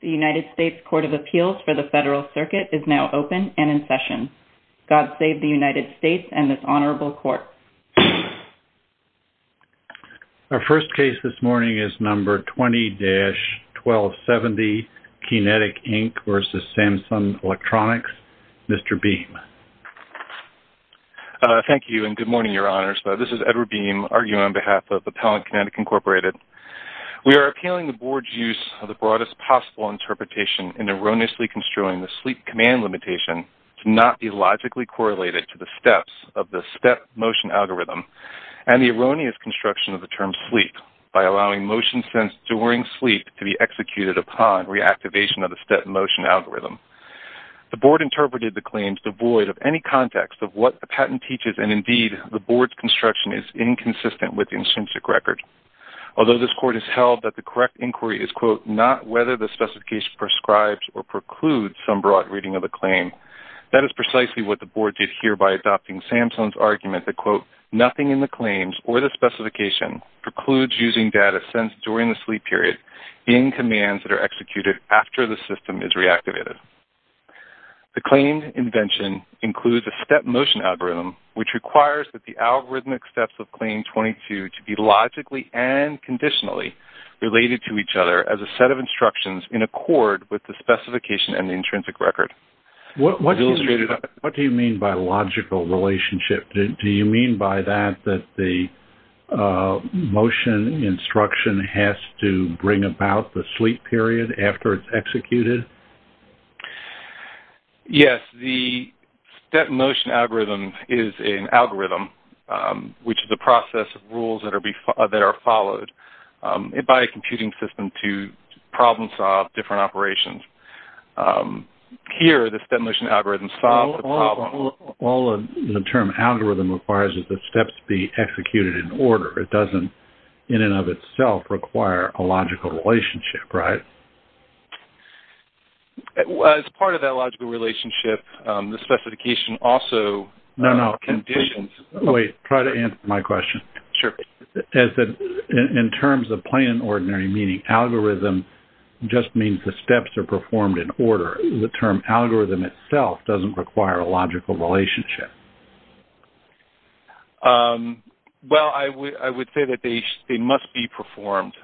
The United States Court of Appeals for the Federal Circuit is now open and in session. God save the United States and this Honorable Court. Our first case this morning is number 20-1270, Keynetik, Inc. v. Samsung Electronics. Mr. Beam. Thank you and good morning, Your Honors. This is Edward Beam, arguing on behalf of Appellant Keynetik, Incorporated. We are appealing the Board's use of the broadest possible interpretation in erroneously construing the sleep command limitation to not be logically correlated to the steps of the step-motion algorithm and the erroneous construction of the term sleep by allowing motion sensed during sleep to be executed upon reactivation of the step-motion algorithm. The Board interpreted the claims devoid of any context of what the patent teaches and, indeed, the Board's construction is inconsistent with the intrinsic record. Although this Court has held that the correct inquiry is, quote, not whether the specification prescribes or precludes some broad reading of the claim, that is precisely what the Board did here by adopting Samsung's argument that, quote, nothing in the claims or the specification precludes using data sensed during the sleep period in commands that are executed after the system is reactivated. The claim invention includes a step-motion algorithm which requires that the algorithmic steps of Claim 22 to be logically and conditionally related to each other as a set of instructions in accord with the specification and the intrinsic record. What do you mean by logical relationship? Do you mean by that that the motion instruction has to bring about the sleep period after it's executed? Yes. The step-motion algorithm is an algorithm which is a process of rules that are followed by a computing system to problem solve different operations. Here, the step-motion algorithm solves the problem. All the term algorithm requires is that steps be executed in order. It doesn't, in and of itself, require a logical relationship, right? As part of that logical relationship, the specification also conditions- No, no. Wait, try to answer my question. Sure. In terms of plain and ordinary meaning, algorithm just means the steps are performed in order. The term algorithm itself doesn't require a logical relationship. Well, I would say that they must be performed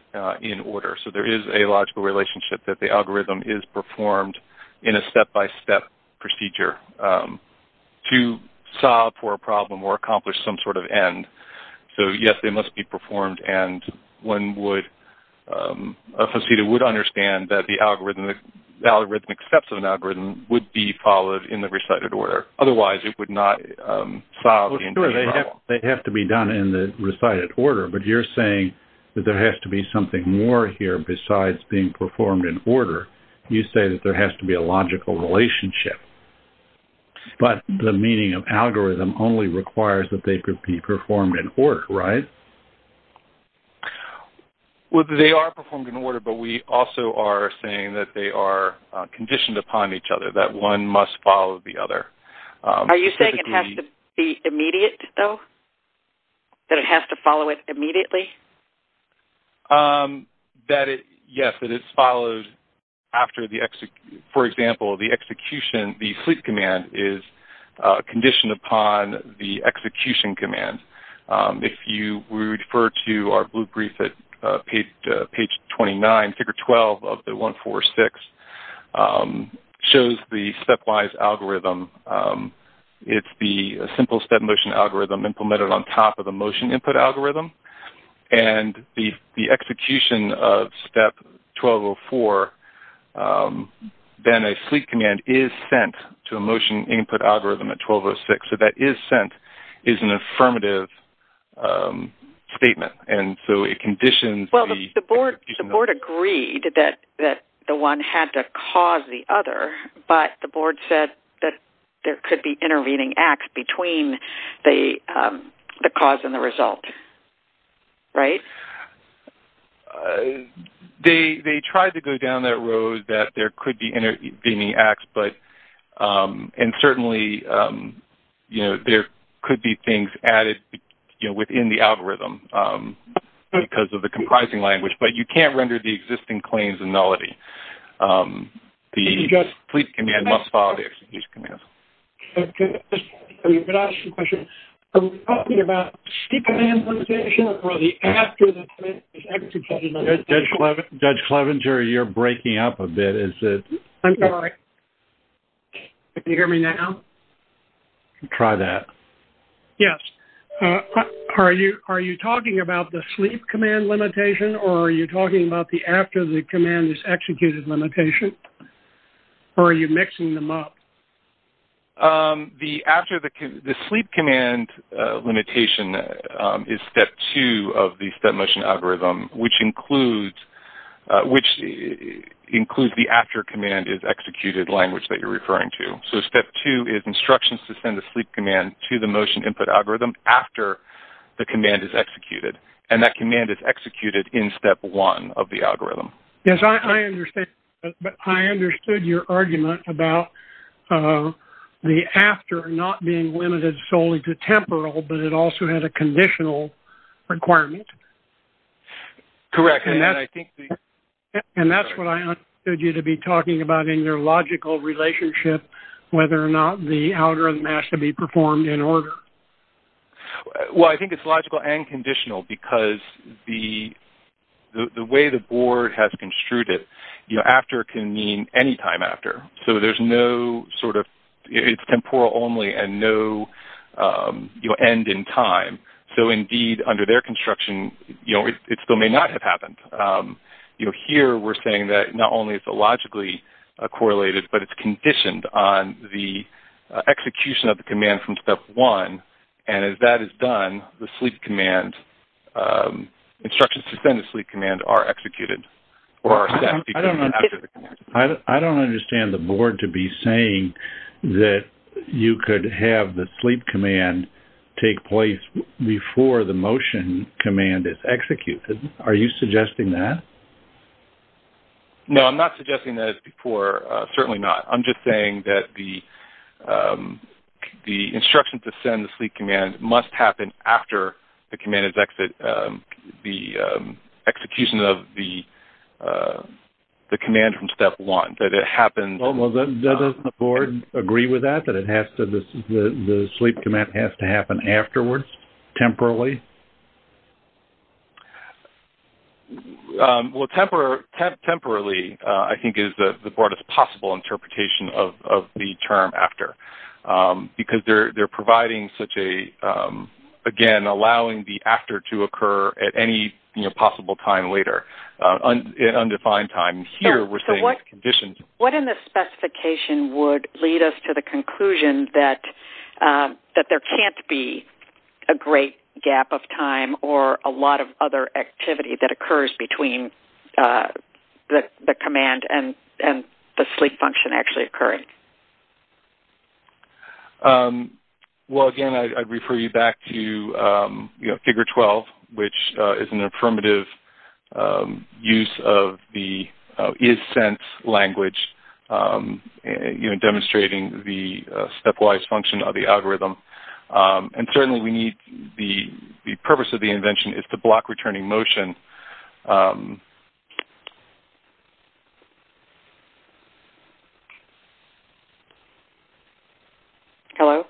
in order. There is a logical relationship that the algorithm is performed in a step-by-step procedure to solve for a problem or accomplish some sort of end. Yes, they must be performed. A facilitator would understand that the algorithm accepts an algorithm would be followed in the recited order. Otherwise, it would not solve the entire problem. They have to be done in the recited order. But you're saying that there has to be something more here besides being performed in order. You say that there has to be a logical relationship. But the meaning of algorithm only requires that they could be performed in order, right? Well, they are performed in order, but we also are saying that they are conditioned upon each other, that one must follow the other. Are you saying it has to be immediate, though? That it has to follow it immediately? Yes, that it's followed after the- For example, the execution, the sleep command is conditioned upon the execution command. If we refer to our blue brief at page 29, figure 12 of the 146, it shows the stepwise algorithm. It's the simple step motion algorithm implemented on top of the motion input algorithm. And the execution of step 1204, then a sleep command is sent to a motion input algorithm at 1206. So that is sent is an affirmative statement. And so it conditions the- Well, the board agreed that the one had to cause the other, but the board said that there could be intervening acts between the cause and the result. Right? They tried to go down that road that there could be intervening acts, and certainly there could be things added within the algorithm because of the comprising language. But you can't render the existing claims a nullity. The sleep command must follow the execution command. Can I ask you a question? Are we talking about sleep command implementation or the after the command is executed? Judge Clevenger, you're breaking up a bit. I'm sorry. Can you hear me now? Try that. Yes. Are you talking about the sleep command limitation or are you talking about the after the command is executed limitation? Or are you mixing them up? The sleep command limitation is step two of the step motion algorithm, which includes the after command is executed language that you're referring to. So step two is instructions to send a sleep command to the motion input algorithm after the command is executed. And that command is executed in step one of the algorithm. Yes, I understand. But I understood your argument about the after not being limited solely to temporal, but it also has a conditional requirement. Correct. And that's what I understood you to be talking about in your logical relationship, whether or not the algorithm has to be performed in order. Well, I think it's logical and conditional because the way the board has construed it, after can mean any time after. So there's no sort of, it's temporal only and no end in time. So indeed, under their construction, it still may not have happened. Here, we're saying that not only is it logically correlated, but it's conditioned on the execution of the command from step one. And as that is done, the sleep command, instructions to send a sleep command are executed. I don't understand the board to be saying that you could have the sleep command take place before the motion command is executed. Are you suggesting that? No, I'm not suggesting that it's before. Certainly not. I'm just saying that the instructions to send the sleep command must happen after the execution of the command from step one. Does the board agree with that? That the sleep command has to happen afterwards, temporarily? Well, temporarily I think is the broadest possible interpretation of the term after because they're providing such a, again, allowing the after to occur at any possible time later, an undefined time. Here, we're saying it's conditioned. What in the specification would lead us to the conclusion that there can't be a great gap of time or a lot of other activity that occurs between the command and the sleep function actually occurring? Well, again, I'd refer you back to Figure 12, which is an affirmative use of the isSense language, demonstrating the stepwise function of the algorithm. Certainly, the purpose of the invention is to block returning motion. Hello?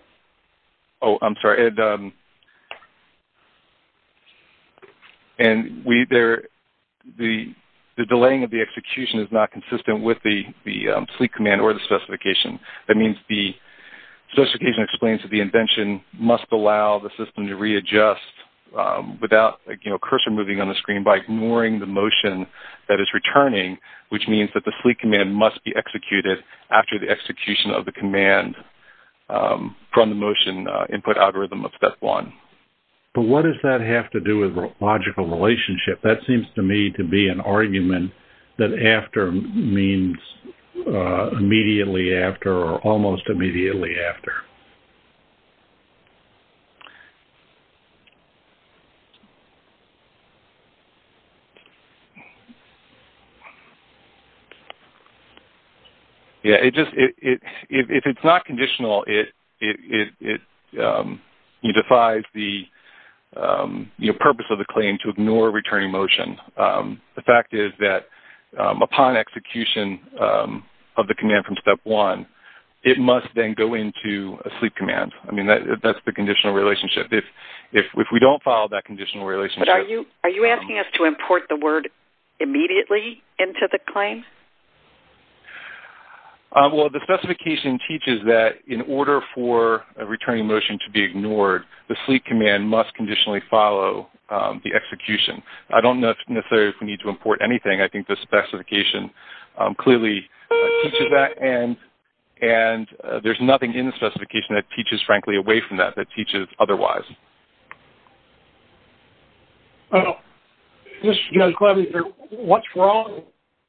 Oh, I'm sorry. And the delaying of the execution is not consistent with the sleep command or the specification. That means the specification explains that the invention must allow the system to readjust without cursor moving on the screen by ignoring the motion that is returning, which means that the sleep command must be executed after the execution of the command from the motion input algorithm of step one. But what does that have to do with logical relationship? That seems to me to be an argument that after means immediately after or almost immediately after. Okay. Yeah, if it's not conditional, it defies the purpose of the claim to ignore returning motion. The fact is that upon execution of the command from step one, it must then go into a sleep command. I mean, that's the conditional relationship. If we don't follow that conditional relationship... But are you asking us to import the word immediately into the claim? Well, the specification teaches that in order for a returning motion to be ignored, the sleep command must conditionally follow the execution. I don't know necessarily if we need to import anything. I think the specification clearly teaches that, and there's nothing in the specification that teaches, frankly, away from that, that teaches otherwise. Well, this is Judge Clevenger. What's wrong?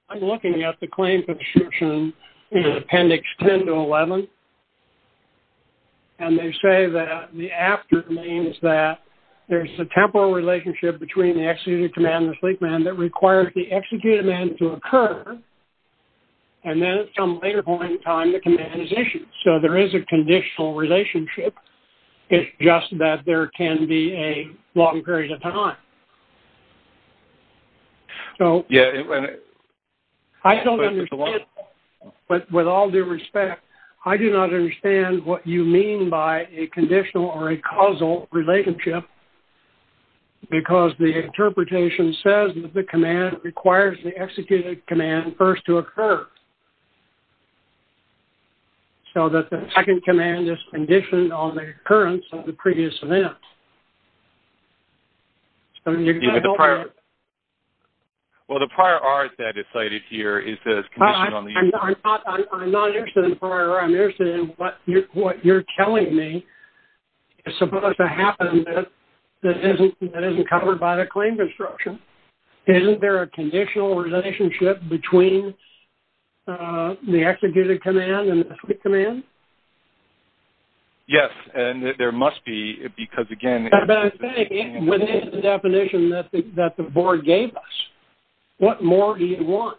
I'm looking at the claim for the solution in appendix 10 to 11, and they say that the after means that there's a temporal relationship between the executed command and the sleep command that requires the executed command to occur, and then at some later point in time, the command is issued. So there is a conditional relationship. It's just that there can be a long period of time. So... Yeah. I don't understand, but with all due respect, I do not understand what you mean by a conditional or a causal relationship, because the interpretation says that the command requires the executed command first to occur, so that the second command is conditioned on the occurrence of the previous event. Well, the prior R that is cited here is the condition on the... I'm not interested in prior R. I'm interested in what you're telling me is supposed to happen that isn't covered by the claim construction. Isn't there a conditional relationship between the executed command and the sleep command? Yes, and there must be, because, again, But I think within the definition that the board gave us, what more do you want?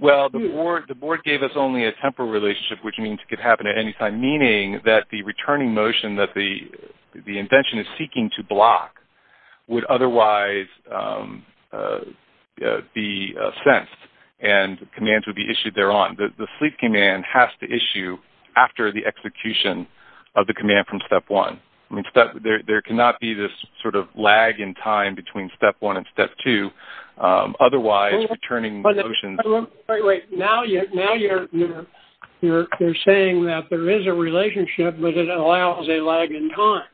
Well, the board gave us only a temporal relationship, which means it could happen at any time, meaning that the returning motion that the invention is seeking to block would otherwise be sensed, and commands would be issued thereon. The sleep command has to issue after the execution of the command from step one. There cannot be this sort of lag in time between step one and step two, otherwise returning motions... Wait, wait. Now you're saying that there is a relationship, but it allows a lag in time.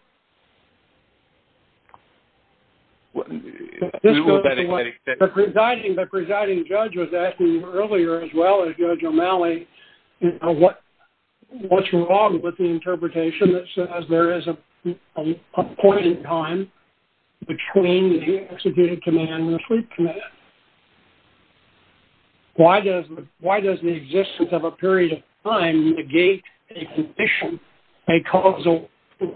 The presiding judge was asking earlier, as well as Judge O'Malley, what's wrong with the interpretation that says there is a point in time between the executed command and the sleep command? Why does the existence of a period of time negate a condition, a causal push?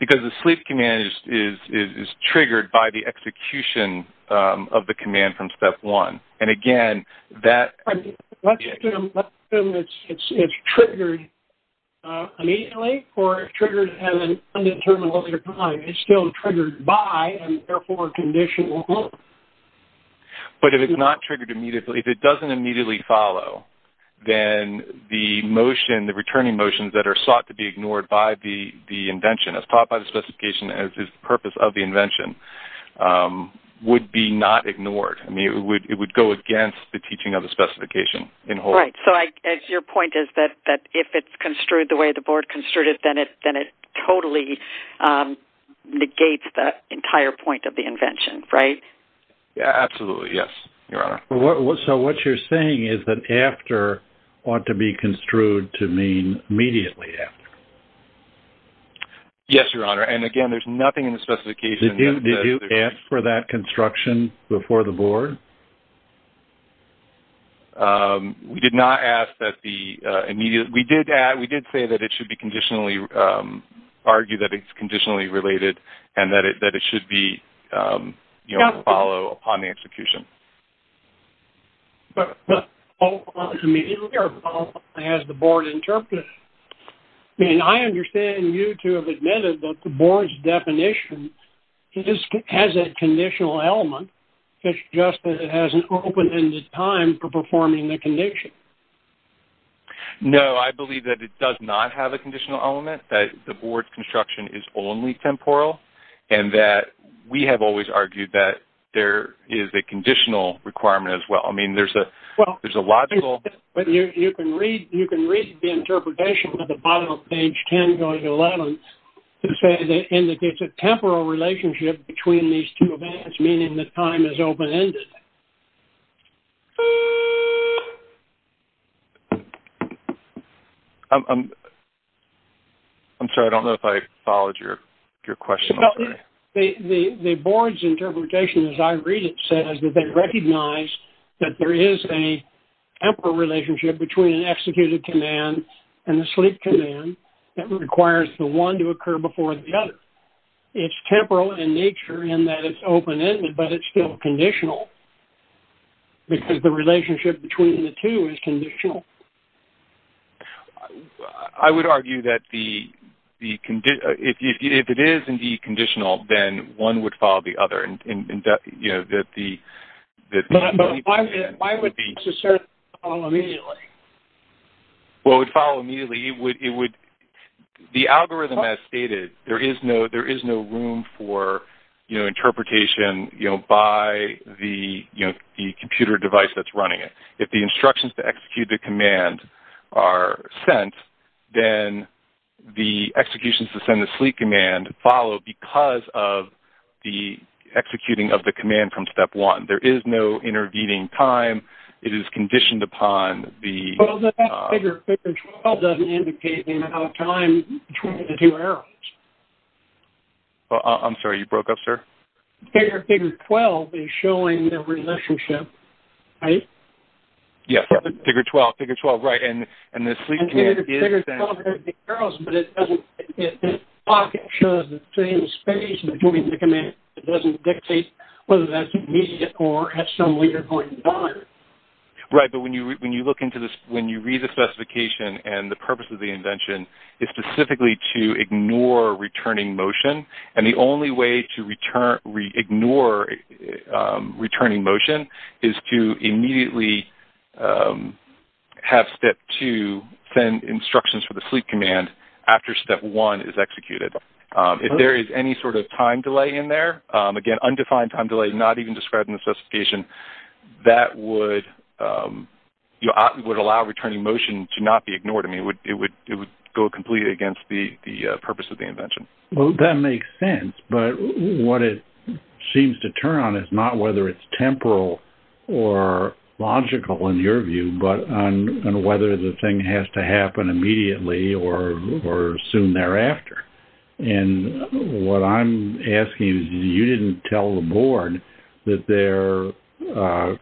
Because the sleep command is triggered by the execution of the command from step one. Let's assume it's triggered immediately, or it's triggered at an undetermined time. It's still triggered by, and therefore a condition won't work. But if it's not triggered immediately, if it doesn't immediately follow, then the returning motions that are sought to be ignored by the invention, as taught by the specification as the purpose of the invention, would be not ignored. It would go against the teaching of the specification. Right. So your point is that if it's construed the way the board construed it, then it totally negates the entire point of the invention, right? Absolutely, yes, Your Honor. So what you're saying is that after ought to be construed to mean immediately after. Yes, Your Honor. And again, there's nothing in the specification... ...to be ignored? We did not ask that the immediate... We did say that it should be conditionally... argue that it's conditionally related, and that it should be, you know, follow upon the execution. But immediately or follow, as the board interpreted it. I mean, I understand you to have admitted that the board's definition has a conditional element. It's just that it has an open-ended time for performing the condition. No, I believe that it does not have a conditional element, that the board's construction is only temporal, and that we have always argued that there is a conditional requirement as well. I mean, there's a logical... Well, you can read the interpretation at the bottom of page 10 going to 11 to say that it indicates a temporal relationship between these two events, meaning that time is open-ended. I'm sorry. I don't know if I followed your question. The board's interpretation, as I read it, says that they recognize that there is a temporal relationship between an executed command and a sleep command that requires the one to occur before the other. It's temporal in nature in that it's open-ended, but it's still conditional, because the relationship between the two is conditional. I would argue that if it is indeed conditional, then one would follow the other. But why would it necessarily follow immediately? Well, it would follow immediately. The algorithm, as stated, there is no room for interpretation by the computer device that's running it. If the instructions to execute the command are sent, then the executions to send the sleep command follow because of the executing of the command from step one. There is no intervening time. It is conditioned upon the... I'm sorry. You broke up, sir. Yes. Figure 12. Figure 12. Right. But when you look into this, when you read the specification and the purpose of the invention is specifically to ignore returning motion, and the only way to ignore returning motion is to immediately have step two send instructions for the sleep command after step one is executed. If there is any sort of time delay in there, again, undefined time delay, not even described in the specification, that would allow returning motion to not be ignored. I mean, it would go completely against the purpose of the invention. Well, that makes sense. But what it seems to turn on is not whether it's temporal or logical, in your view, but on whether the thing has to happen immediately or soon thereafter. And what I'm asking is you didn't tell the board that their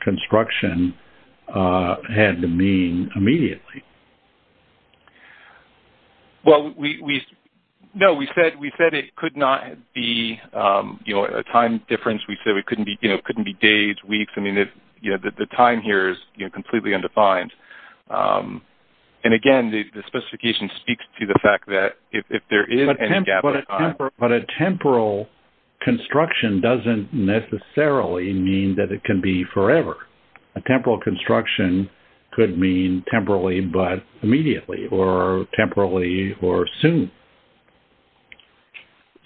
construction had to mean immediately. Well, no. We said it could not be a time difference. We said it couldn't be days, weeks. I mean, the time here is completely undefined. And again, the specification speaks to the fact that if there is any gap in time. But a temporal construction doesn't necessarily mean that it can be forever. A temporal construction could mean temporally, but immediately, or temporally, or soon.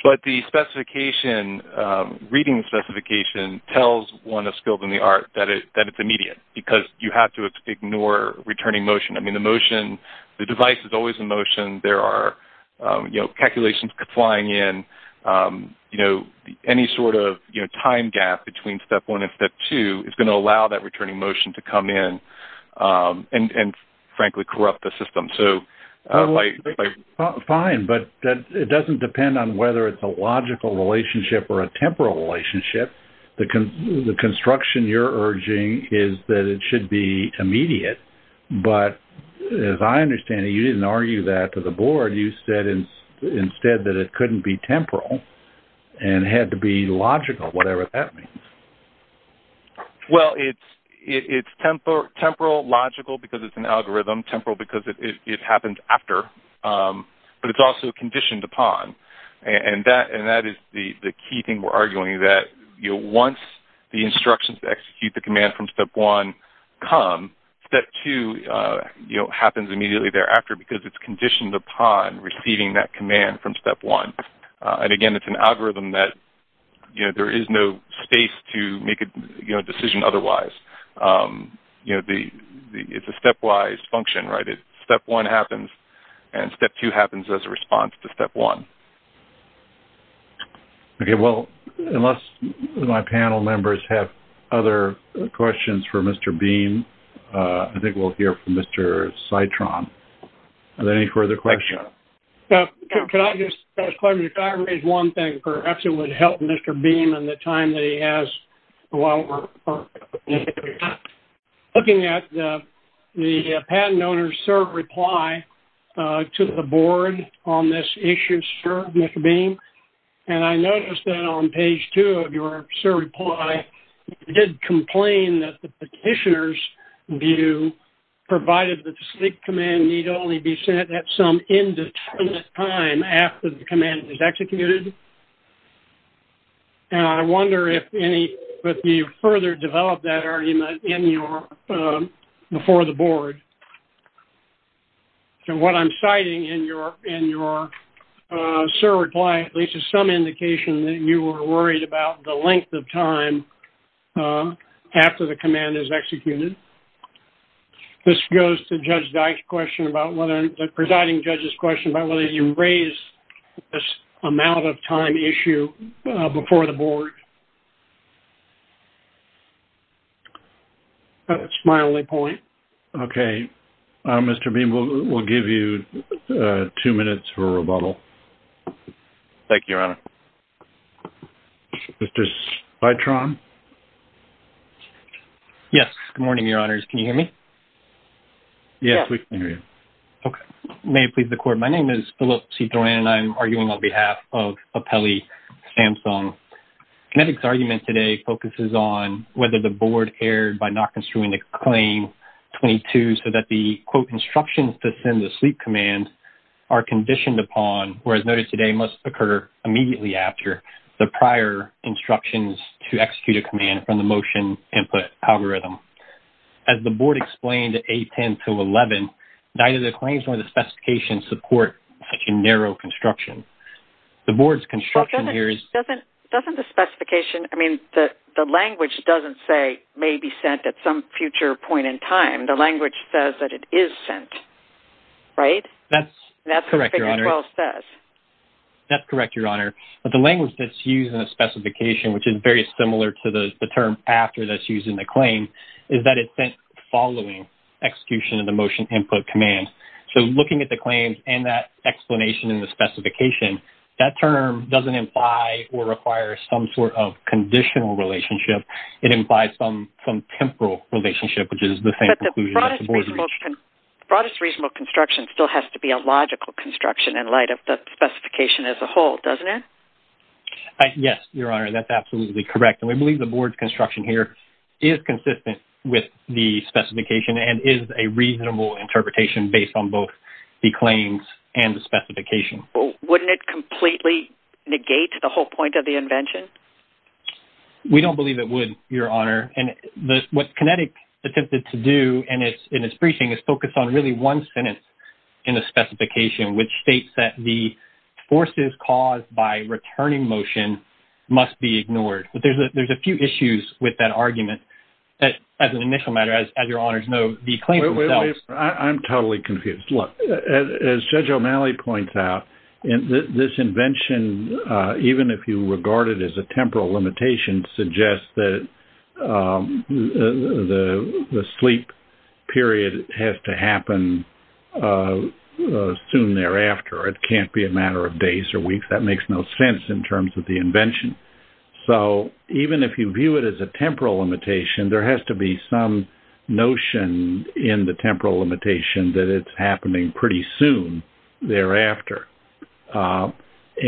But the specification, reading specification, tells one of skills in the art that it's immediate, because you have to ignore returning motion. I mean, the motion, the device is always in motion. There are calculations flying in. Any sort of time gap between step one and step two is going to allow that returning motion to come in and, frankly, corrupt the system. Fine, but it doesn't depend on whether it's a logical relationship or a temporal relationship. The construction you're urging is that it should be immediate. But as I understand it, you didn't argue that to the board. You said instead that it couldn't be temporal and had to be logical, whatever that means. Well, it's temporal, logical because it's an algorithm, temporal because it happens after, but it's also conditioned upon. And that is the key thing we're arguing, that once the instructions to execute the command from step one come, step two happens immediately thereafter because it's conditioned upon receiving that command from step one. And, again, it's an algorithm that there is no space to make a decision otherwise. It's a stepwise function. Step one happens, and step two happens as a response to step one. Okay. Well, unless my panel members have other questions for Mr. Beam, I think we'll hear from Mr. Citron. Are there any further questions? Can I just ask one thing? Perhaps it would help Mr. Beam in the time that he has. Looking at the patent owner's short reply to the board on this issue, sir, Mr. Beam, and I noticed that on page two of your short reply, you did complain that the petitioner's view provided that the sleep command need only be sent at some indefinite time after the command is executed. And I wonder if you further developed that argument before the board. So what I'm citing in your short reply at least is some indication that you were worried about the length of time after the command is executed. This goes to Judge Dyke's question about whether, the presiding judge's question about whether you raised this amount of time issue before the board. That's my only point. Okay. Mr. Beam, we'll give you two minutes for rebuttal. Thank you, Your Honor. Mr. Citron? Yes, good morning, Your Honors. Can you hear me? Yes, we can hear you. Okay. May it please the court, my name is Philip Citron, and I'm arguing on behalf of Apelli Samsung. The argument today focuses on whether the board erred by not construing the claim 22 so that the, quote, instructions to send the sleep command are conditioned upon, whereas noted today must occur immediately after, the prior instructions to execute a command from the motion input algorithm. As the board explained at 8.10 to 11, neither the claims nor the specifications support such a narrow construction. The board's construction here is... Doesn't the specification, I mean, the language doesn't say may be sent at some future point in time. The language says that it is sent, right? That's correct, Your Honor. And that's what figure 12 says. That's correct, Your Honor. But the language that's used in the specification, which is very similar to the term after that's used in the claim, is that it's sent following execution of the motion input command. So looking at the claims and that explanation in the specification, that term doesn't imply or require some sort of conditional relationship. It implies some temporal relationship, which is the same conclusion... But the broadest reasonable construction still has to be a logical construction in light of the specification as a whole, doesn't it? Yes, Your Honor. That's absolutely correct. And we believe the board's construction here is consistent with the specification and is a reasonable interpretation based on both the claims and the specification. Wouldn't it completely negate the whole point of the invention? We don't believe it would, Your Honor. And what Kinetic attempted to do in its briefing is focus on really one sentence in the specification, which states that the forces caused by returning motion must be ignored. But there's a few issues with that argument that, as an initial matter, as Your Honors know, the claims themselves... I'm totally confused. Look, as Judge O'Malley points out, this invention, even if you regard it as a temporal limitation, suggests that the sleep period has to happen soon thereafter. It can't be a matter of days or weeks. That makes no sense in terms of the invention. So even if you view it as a temporal limitation, there has to be some notion in the temporal limitation that it's happening pretty soon thereafter.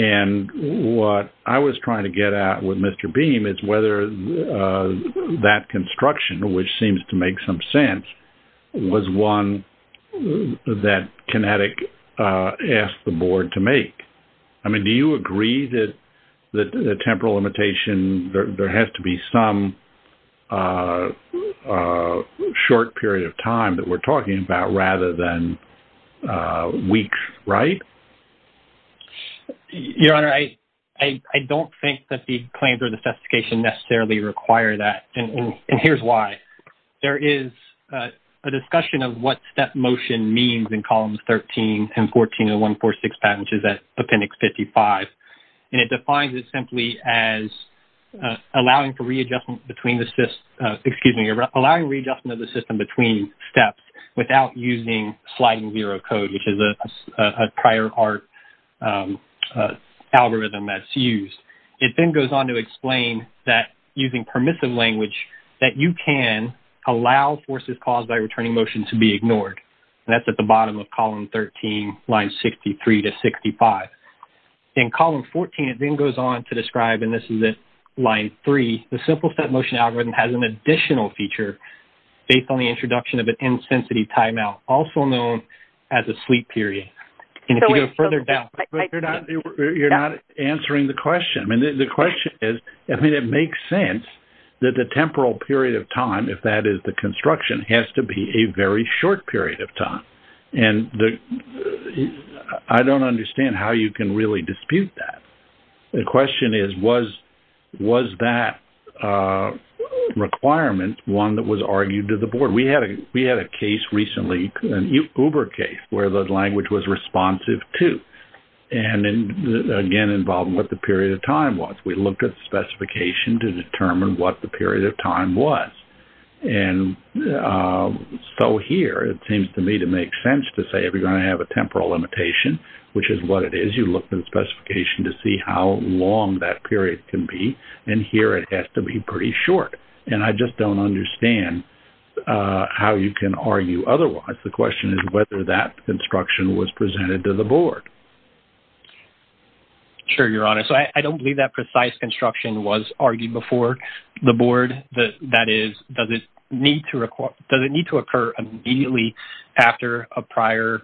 And what I was trying to get at with Mr. Beam is whether that construction, which seems to make some sense, was one that Kinetic asked the board to make. I mean, do you agree that the temporal limitation... ...is a short period of time that we're talking about rather than weeks, right? Your Honor, I don't think that the claims or the specification necessarily require that. And here's why. There is a discussion of what step motion means in columns 13 and 14 of 146 patent, which is at Appendix 55. And it defines it simply as allowing readjustment of the system between steps without using sliding zero code, which is a prior art algorithm that's used. It then goes on to explain that using permissive language, that you can allow forces caused by returning motion to be ignored. And that's at the bottom of column 13, lines 63 to 65. In column 14, it then goes on to describe, and this is at line 3, the simple step motion algorithm has an additional feature based on the introduction of an intensity timeout, also known as a sleep period. And if you go further down... But you're not answering the question. I mean, the question is, I mean, it makes sense that the temporal period of time, if that is the construction, has to be a very short period of time. And I don't understand how you can really dispute that. The question is, was that requirement one that was argued to the board? We had a case recently, an Uber case, where the language was responsive to, and again, involved what the period of time was. We looked at the specification to determine what the period of time was. And so here, it seems to me to make sense to say, if you're going to have a temporal limitation, which is what it is, you look at the specification to see how long that period can be, and here it has to be pretty short. And I just don't understand how you can argue otherwise. The question is whether that construction was presented to the board. Sure, Your Honor. So I don't believe that precise construction was argued before the board. That is, does it need to occur immediately after a prior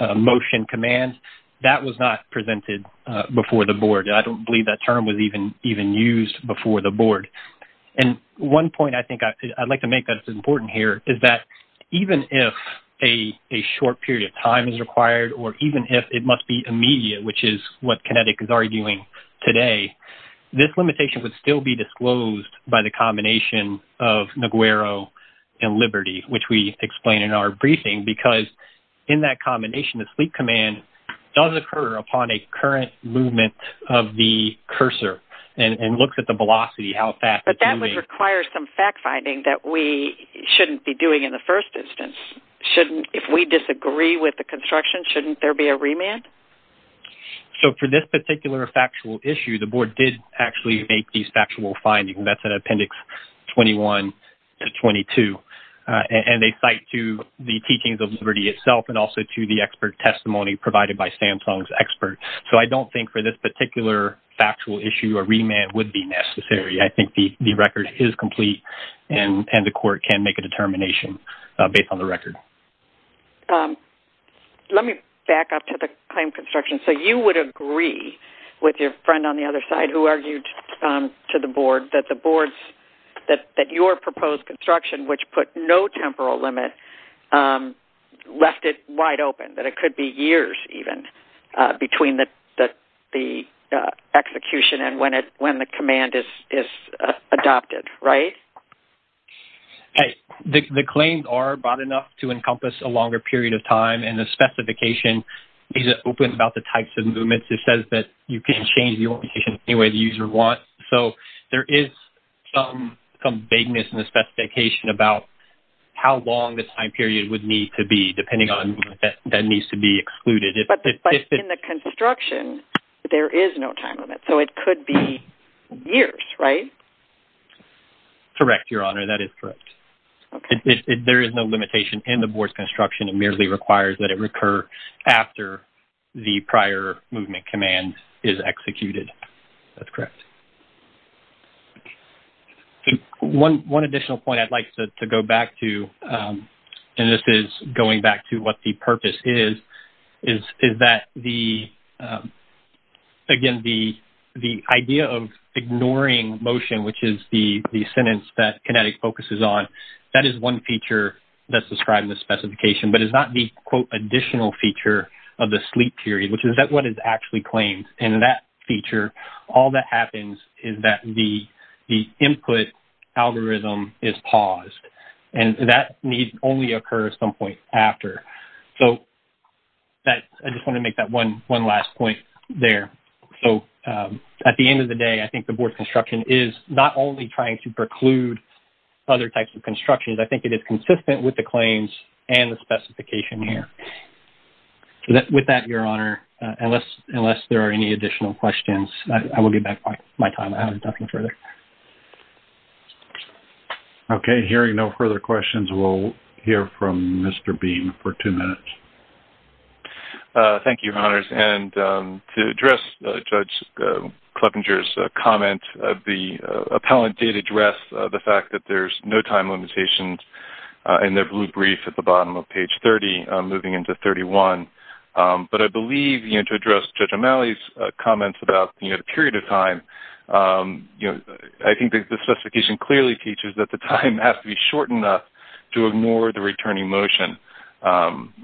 motion command? That was not presented before the board. I don't believe that term was even used before the board. And one point I think I'd like to make that is important here is that, even if a short period of time is required, or even if it must be immediate, which is what Kinetic is arguing today, this limitation would still be disclosed by the combination of Neguero and Liberty, which we explain in our briefing, because in that combination, the sleep command does occur upon a current movement of the cursor and looks at the velocity, how fast it's moving. But that would require some fact-finding that we shouldn't be doing in the first instance. If we disagree with the construction, shouldn't there be a remand? So for this particular factual issue, the board did actually make these factual findings. That's in Appendix 21 to 22. And they cite to the teachings of Liberty itself and also to the expert testimony provided by Samsung's experts. So I don't think for this particular factual issue a remand would be necessary. I think the record is complete, and the court can make a determination based on the record. Let me back up to the claim construction. So you would agree with your friend on the other side, who argued to the board, that your proposed construction, which put no temporal limit, left it wide open, that it could be years even between the execution and when the command is adopted, right? Hey, the claims are broad enough to encompass a longer period of time, and the specification is open about the types of movements. It says that you can change the orientation any way the user wants. So there is some vagueness in the specification about how long the time period would need to be, depending on that needs to be excluded. But in the construction, there is no time limit. So it could be years, right? Correct, Your Honor, that is correct. There is no limitation in the board's construction. It merely requires that it recur after the prior movement command is executed. That's correct. One additional point I'd like to go back to, and this is going back to what the purpose is, is that, again, the idea of ignoring motion, which is the sentence that Kinetic focuses on, that is one feature that's described in the specification, but it's not the, quote, additional feature of the sleep period, which is what is actually claimed in that feature. All that happens is that the input algorithm is paused, and that need only occurs at some point after. So I just want to make that one last point there. So at the end of the day, I think the board's construction is not only trying to preclude other types of constructions. I think it is consistent with the claims and the specification here. So with that, Your Honor, unless there are any additional questions, I will give back my time. I haven't got any further. Okay, hearing no further questions, we'll hear from Mr. Beam for two minutes. Thank you, Your Honors. And to address Judge Kleppinger's comment, the appellant did address the fact that there's no time limitations in their blue brief at the bottom of page 30, moving into 31. But I believe, you know, to address Judge O'Malley's comments about, you know, the period of time, you know, I think the specification clearly teaches that the time has to be short enough to ignore the returning motion.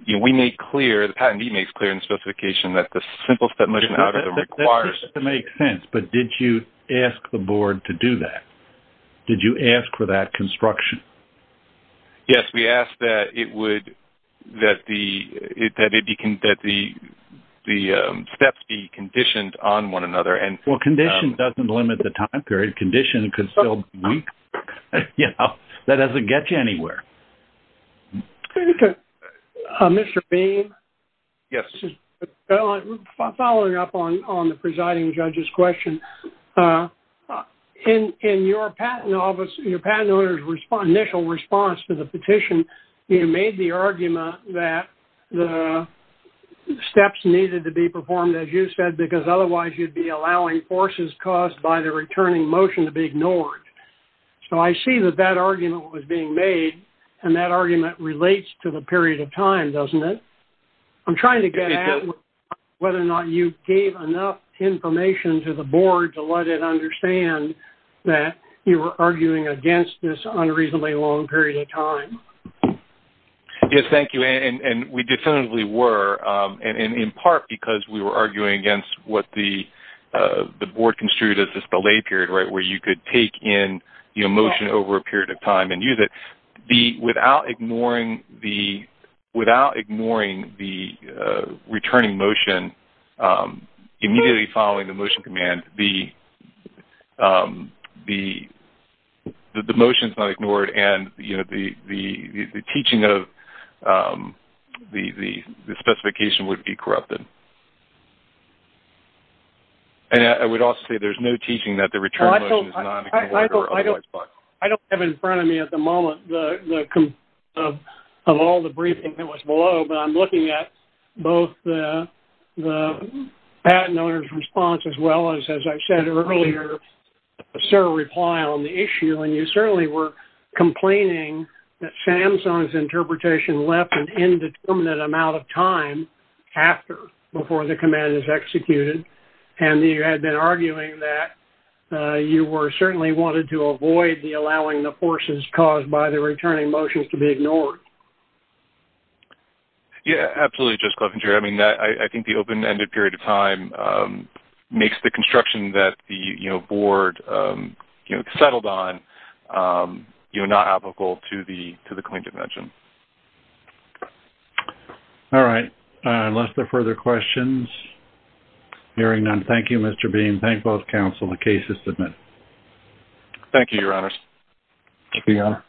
You know, we make clear, the patentee makes clear in the specification that the simple step motion algorithm requires... That makes sense, but did you ask the board to do that? Did you ask for that construction? Yes, we asked that it would, that the steps be conditioned on one another. Well, condition doesn't limit the time period. Condition could still be weak. You know, that doesn't get you anywhere. Mr. Beam? Yes. Following up on the presiding judge's question, in your patent office, your patent owner's initial response to the petition, you made the argument that the steps needed to be performed as you said, because otherwise you'd be allowing forces caused by the returning motion to be ignored. So I see that that argument was being made, and that argument relates to the period of time, doesn't it? I'm trying to get at whether or not you gave enough information to the board to let it understand that you were arguing against this unreasonably long period of time. Yes, thank you. And we definitively were, and in part because we were arguing against what the board construed as this belay period, right, where you could take in motion over a period of time and use it. Without ignoring the returning motion, immediately following the motion command, the motion is not ignored, and the teaching of the specification would be corrupted. And I would also say there's no teaching that the return motion is not ignored. I don't have in front of me at the moment of all the briefing that was below, but I'm looking at both the patent owner's response, as well as as I said earlier, sir, reply on the issue. And you certainly were complaining that SAMSUNG's interpretation left an indeterminate amount of time after, before the command is executed. And you had been arguing that you were certainly wanted to avoid the allowing the forces caused by the returning motions to be ignored. Yeah, absolutely. I think the open ended period of time makes the construction that the, you know, board, you know, settled on, you know, not applicable to the claim to mention. All right. Unless there are further questions. Hearing none. Thank you, Mr. Bean. Thank both council and cases submit. Thank you. Your honors.